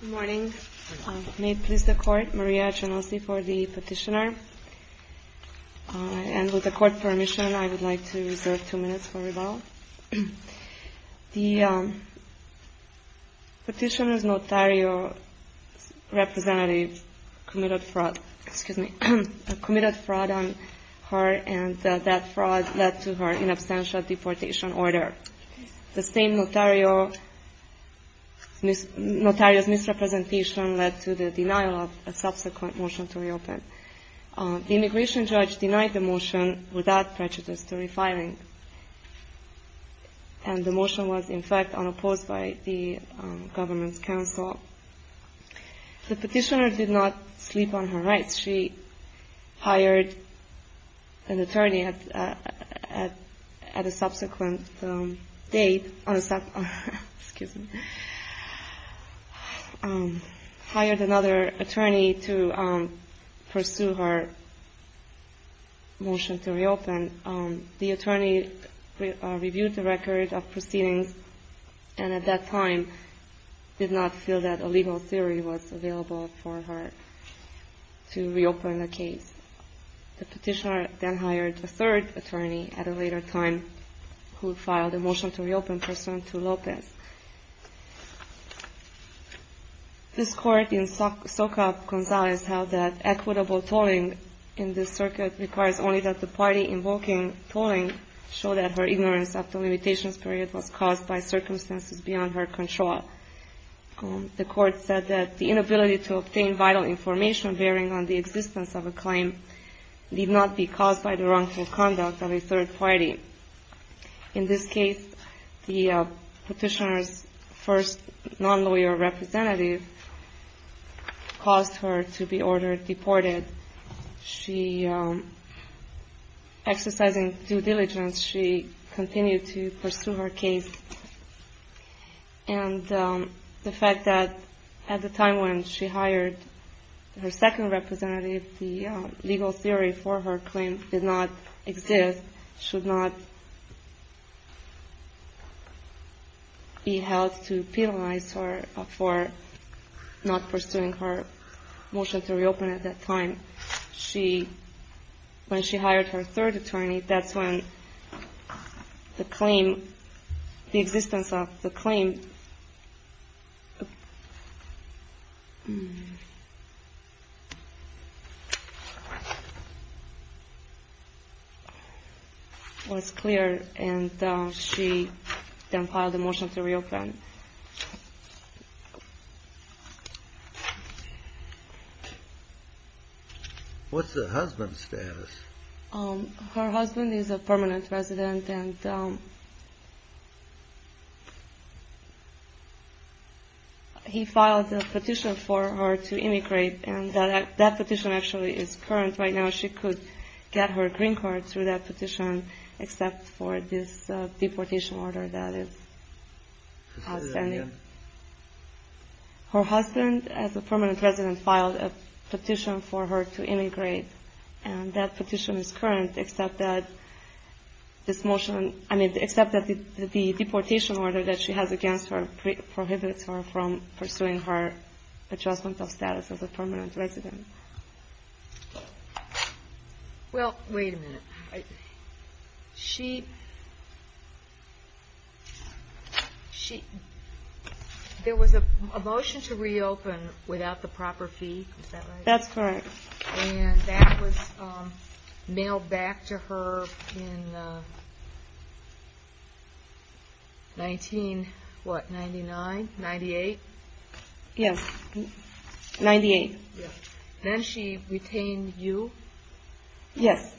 Good morning. May it please the court, Maria Genovese for the petitioner. And with the court permission, I would like to reserve two minutes for rebuttal. The petitioner's notario representative committed fraud on her and that fraud led to her inabstantial deportation order. The same notario's misrepresentation led to the denial of a subsequent motion to reopen. The immigration judge denied the motion without prejudice to refiling, and the motion was in fact unopposed by the government's counsel. The petitioner did not sleep on her rights. She hired another attorney to pursue her motion to reopen. The attorney reviewed the record of proceedings and at that time did not feel that a legal theory was available for her to reopen the case. The petitioner then hired a third attorney at a later time who filed a motion to reopen pursuant to Lopez. This court in Soka Gonzales held that equitable tolling in this circuit requires only that the party invoking tolling show that her ignorance of the limitations period was caused by circumstances beyond her control. The court said that the inability to obtain vital information bearing on the existence of a claim need not be caused by the wrongful conduct of a third party. In this case, the petitioner's first non-lawyer representative caused her to be ordered deported. Exercising due diligence, she continued to pursue her case and the fact that at the time when she hired her second representative, the legal theory for her claim did not exist, and should not be held to penalize her for not pursuing her motion to reopen at that time. When she hired her third attorney, that's when the claim, the existence of the claim, was clear and she then filed a motion to reopen. What's the husband's status? Her husband is a permanent resident and he filed a petition for her to immigrate. And that petition actually is current right now. She could get her green card through that petition except for this deportation order that is outstanding. Her husband, as a permanent resident, filed a petition for her to immigrate. And that petition is current except that this motion, I mean, except that the deportation order that she has against her prohibits her from pursuing her adjustment of status as a permanent resident. Well, wait a minute. She, there was a motion to reopen without the proper fee. Is that right? That's correct. And that was mailed back to her in 19, what, 99, 98? Yes, 98. Then she retained you? Yes.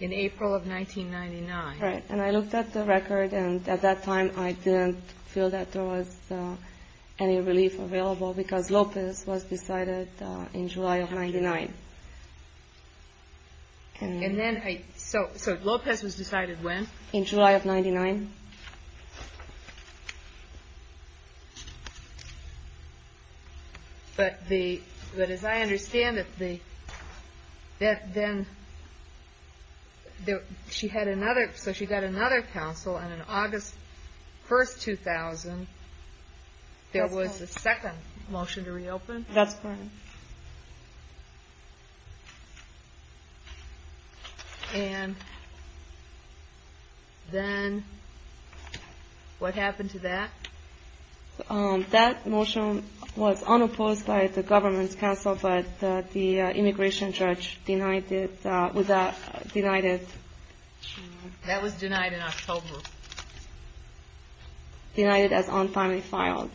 In April of 1999. Right. And I looked at the record and at that time I didn't feel that there was any relief available because Lopez was decided in July of 99. And then I, so Lopez was decided when? In July of 99. But the, but as I understand it, the, then she had another, so she got another counsel and in August 1st, 2000, there was a second motion to reopen? That's correct. And then what happened to that? That motion was unopposed by the government's counsel, but the immigration judge denied it, denied it. Denied it as unfoundly filed.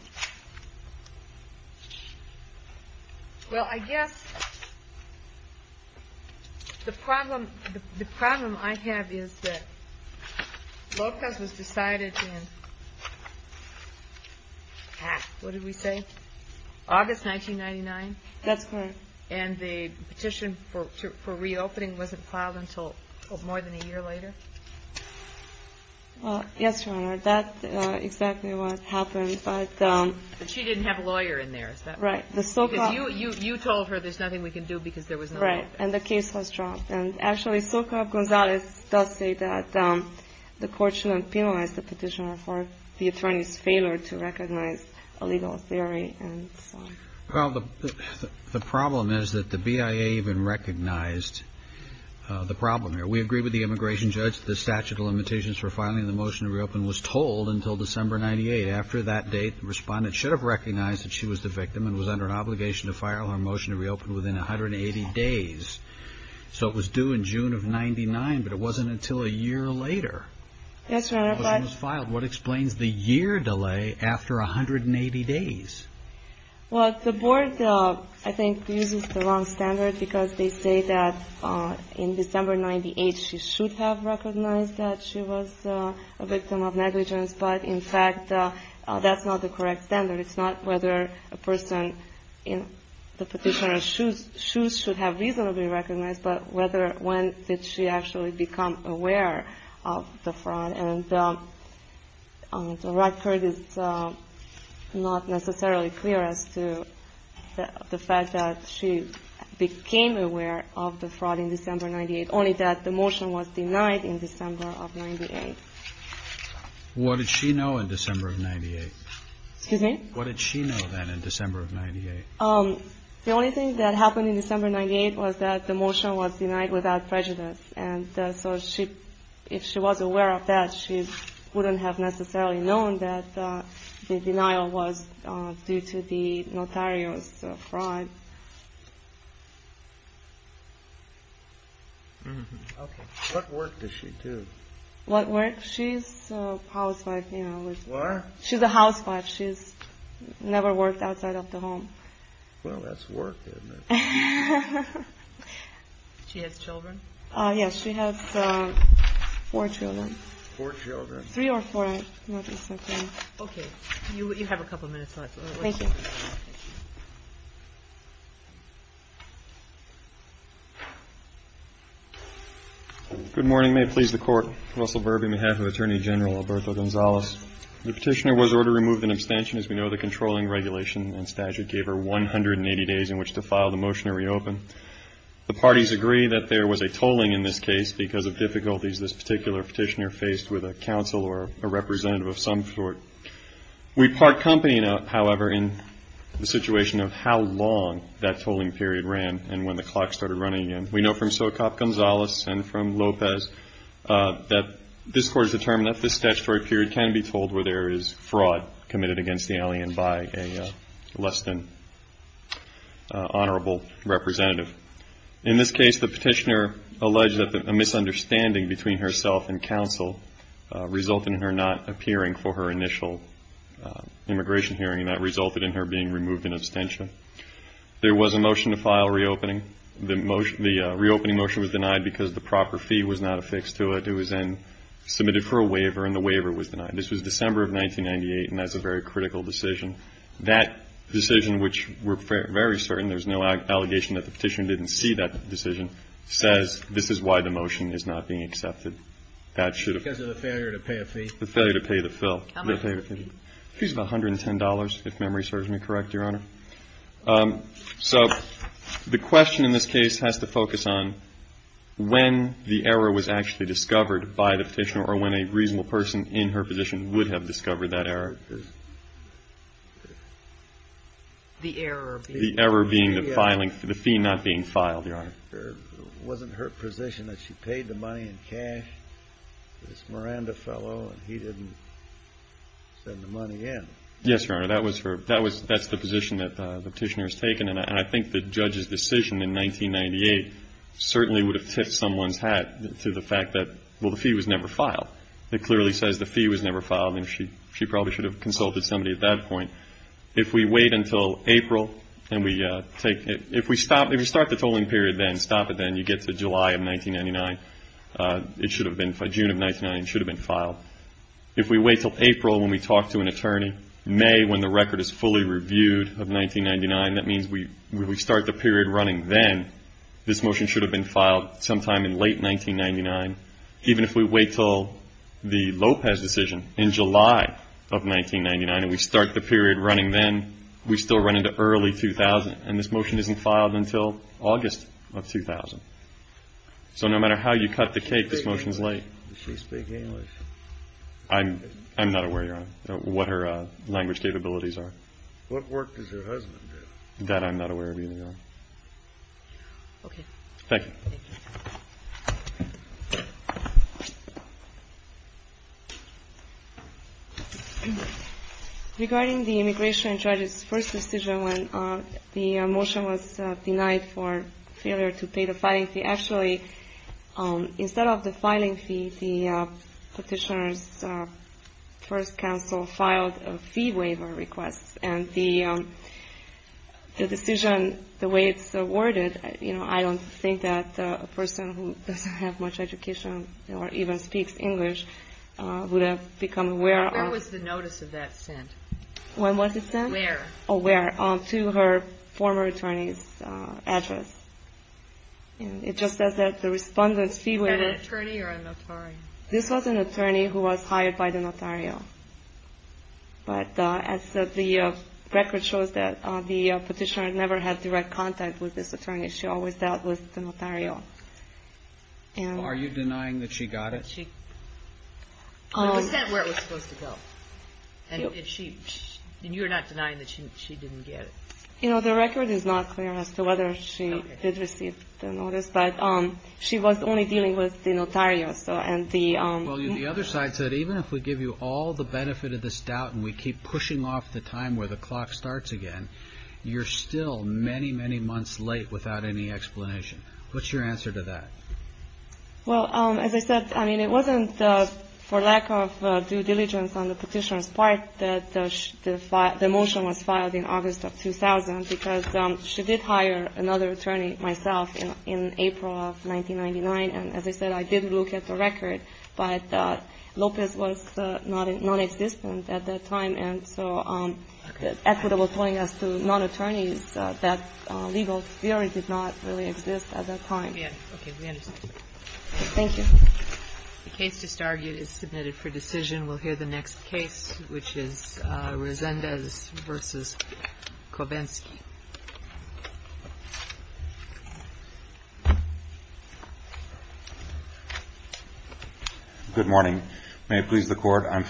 Well, I guess the problem, the problem I have is that Lopez was decided in, what did we say? August 1999? That's correct. And the petition for reopening wasn't filed until more than a year later? Well, yes, Your Honor, that's exactly what happened, but. But she didn't have a lawyer in there, is that right? Right, the SOCOP. Because you told her there's nothing we can do because there was no lawyer. Right, and the case was dropped. And actually, SOCOP Gonzalez does say that the court shouldn't penalize the petitioner for the attorney's failure to recognize a legal theory and so on. Well, the problem is that the BIA even recognized the problem here. We agree with the immigration judge that the statute of limitations for filing the motion to reopen was told until December 98. After that date, the respondent should have recognized that she was the victim and was under an obligation to file her motion to reopen within 180 days. So it was due in June of 99, but it wasn't until a year later. Yes, Your Honor, but. The motion was filed. What explains the year delay after 180 days? Well, the board, I think, uses the wrong standard because they say that in December 98 she should have recognized that she was a victim of negligence. But, in fact, that's not the correct standard. It's not whether a person in the petitioner's shoes should have reasonably recognized, but whether when did she actually become aware of the fraud. And the record is not necessarily clear as to the fact that she became aware of the fraud in December 98, only that the motion was denied in December of 98. What did she know in December of 98? Excuse me? What did she know then in December of 98? The only thing that happened in December 98 was that the motion was denied without prejudice. And so if she was aware of that, she wouldn't have necessarily known that the denial was due to the notarious fraud. What work does she do? What work? She's a housewife. What? She's a housewife. She's never worked outside of the home. Well, that's work, isn't it? She has children? Yes. She has four children. Four children. Three or four. Okay. You have a couple minutes left. Thank you. Good morning. May it please the Court. Russell Burby, on behalf of Attorney General Alberto Gonzalez. The petitioner was ordered to remove an abstention. As we know, the controlling regulation and statute gave her 180 days in which to file the motion to reopen. The parties agree that there was a tolling in this case because of difficulties this particular petitioner faced with a counsel or a representative of some sort. We part company, however, in the situation of how long that tolling period ran and when the clock started running again. We know from Socop Gonzalez and from Lopez that this Court has determined that this statutory period can be told where there is fraud committed against the alien by a less than honorable representative. In this case, the petitioner alleged that a misunderstanding between herself and counsel resulted in her not appearing for her initial immigration hearing, and that resulted in her being removed in abstention. There was a motion to file reopening. The reopening motion was denied because the proper fee was not affixed to it. It was then submitted for a waiver, and the waiver was denied. This was December of 1998, and that's a very critical decision. That decision, which we're very certain, there's no allegation that the petitioner didn't see that decision, says this is why the motion is not being accepted. That should have been. Because of the failure to pay a fee? The failure to pay the fill. How much? It was about $110, if memory serves me correct, Your Honor. So the question in this case has to focus on when the error was actually discovered by the petitioner or when a reasonable person in her position would have discovered that error. The error being? The error being the fee not being filed, Your Honor. It wasn't her position that she paid the money in cash to this Miranda fellow, and he didn't send the money in. Yes, Your Honor, that was her. That's the position that the petitioner has taken, and I think the judge's decision in 1998 certainly would have tipped someone's hat to the fact that, well, the fee was never filed. It clearly says the fee was never filed, and she probably should have consulted somebody at that point. If we wait until April and we take it, if we start the tolling period then, stop it then, you get to July of 1999. It should have been June of 1999. It should have been filed. If we wait until April when we talk to an attorney, May when the record is fully reviewed of 1999, that means we start the period running then, this motion should have been filed sometime in late 1999. Even if we wait until the Lopez decision in July of 1999 and we start the period running then, we still run into early 2000, and this motion isn't filed until August of 2000. So no matter how you cut the cake, this motion's late. Does she speak English? I'm not aware, Your Honor, what her language capabilities are. What work does her husband do? That I'm not aware of either, Your Honor. Okay. Thank you. Thank you. Regarding the immigration judge's first decision when the motion was denied for failure to pay the filing fee, actually, instead of the filing fee, the petitioner's first counsel filed a fee waiver request, and the decision, the way it's worded, I don't think that a person who doesn't have much education or even speaks English would have become aware of it. Where was the notice of that sent? When was it sent? Where? To her former attorney's address. It just says that the respondent's fee waiver. Was that an attorney or a notary? This was an attorney who was hired by the notary. But as the record shows, the petitioner never had direct contact with this attorney. She always dealt with the notary. Are you denying that she got it? It was sent where it was supposed to go. And you're not denying that she didn't get it? You know, the record is not clear as to whether she did receive the notice, but she was only dealing with the notary. Well, the other side said even if we give you all the benefit of this doubt and we keep pushing off the time where the clock starts again, you're still many, many months late without any explanation. What's your answer to that? Well, as I said, I mean, it wasn't for lack of due diligence on the petitioner's part that the motion was filed in August of 2000, because she did hire another attorney, myself, in April of 1999. And as I said, I did look at the record, but Lopez was nonexistent at that time. And so the equitable point as to non-attorneys, that legal theory did not really exist at that time. Okay. We understand. Thank you. The case just argued is submitted for decision. We'll hear the next case, which is Resendez v. Kobensky. Good morning. May it please the Court.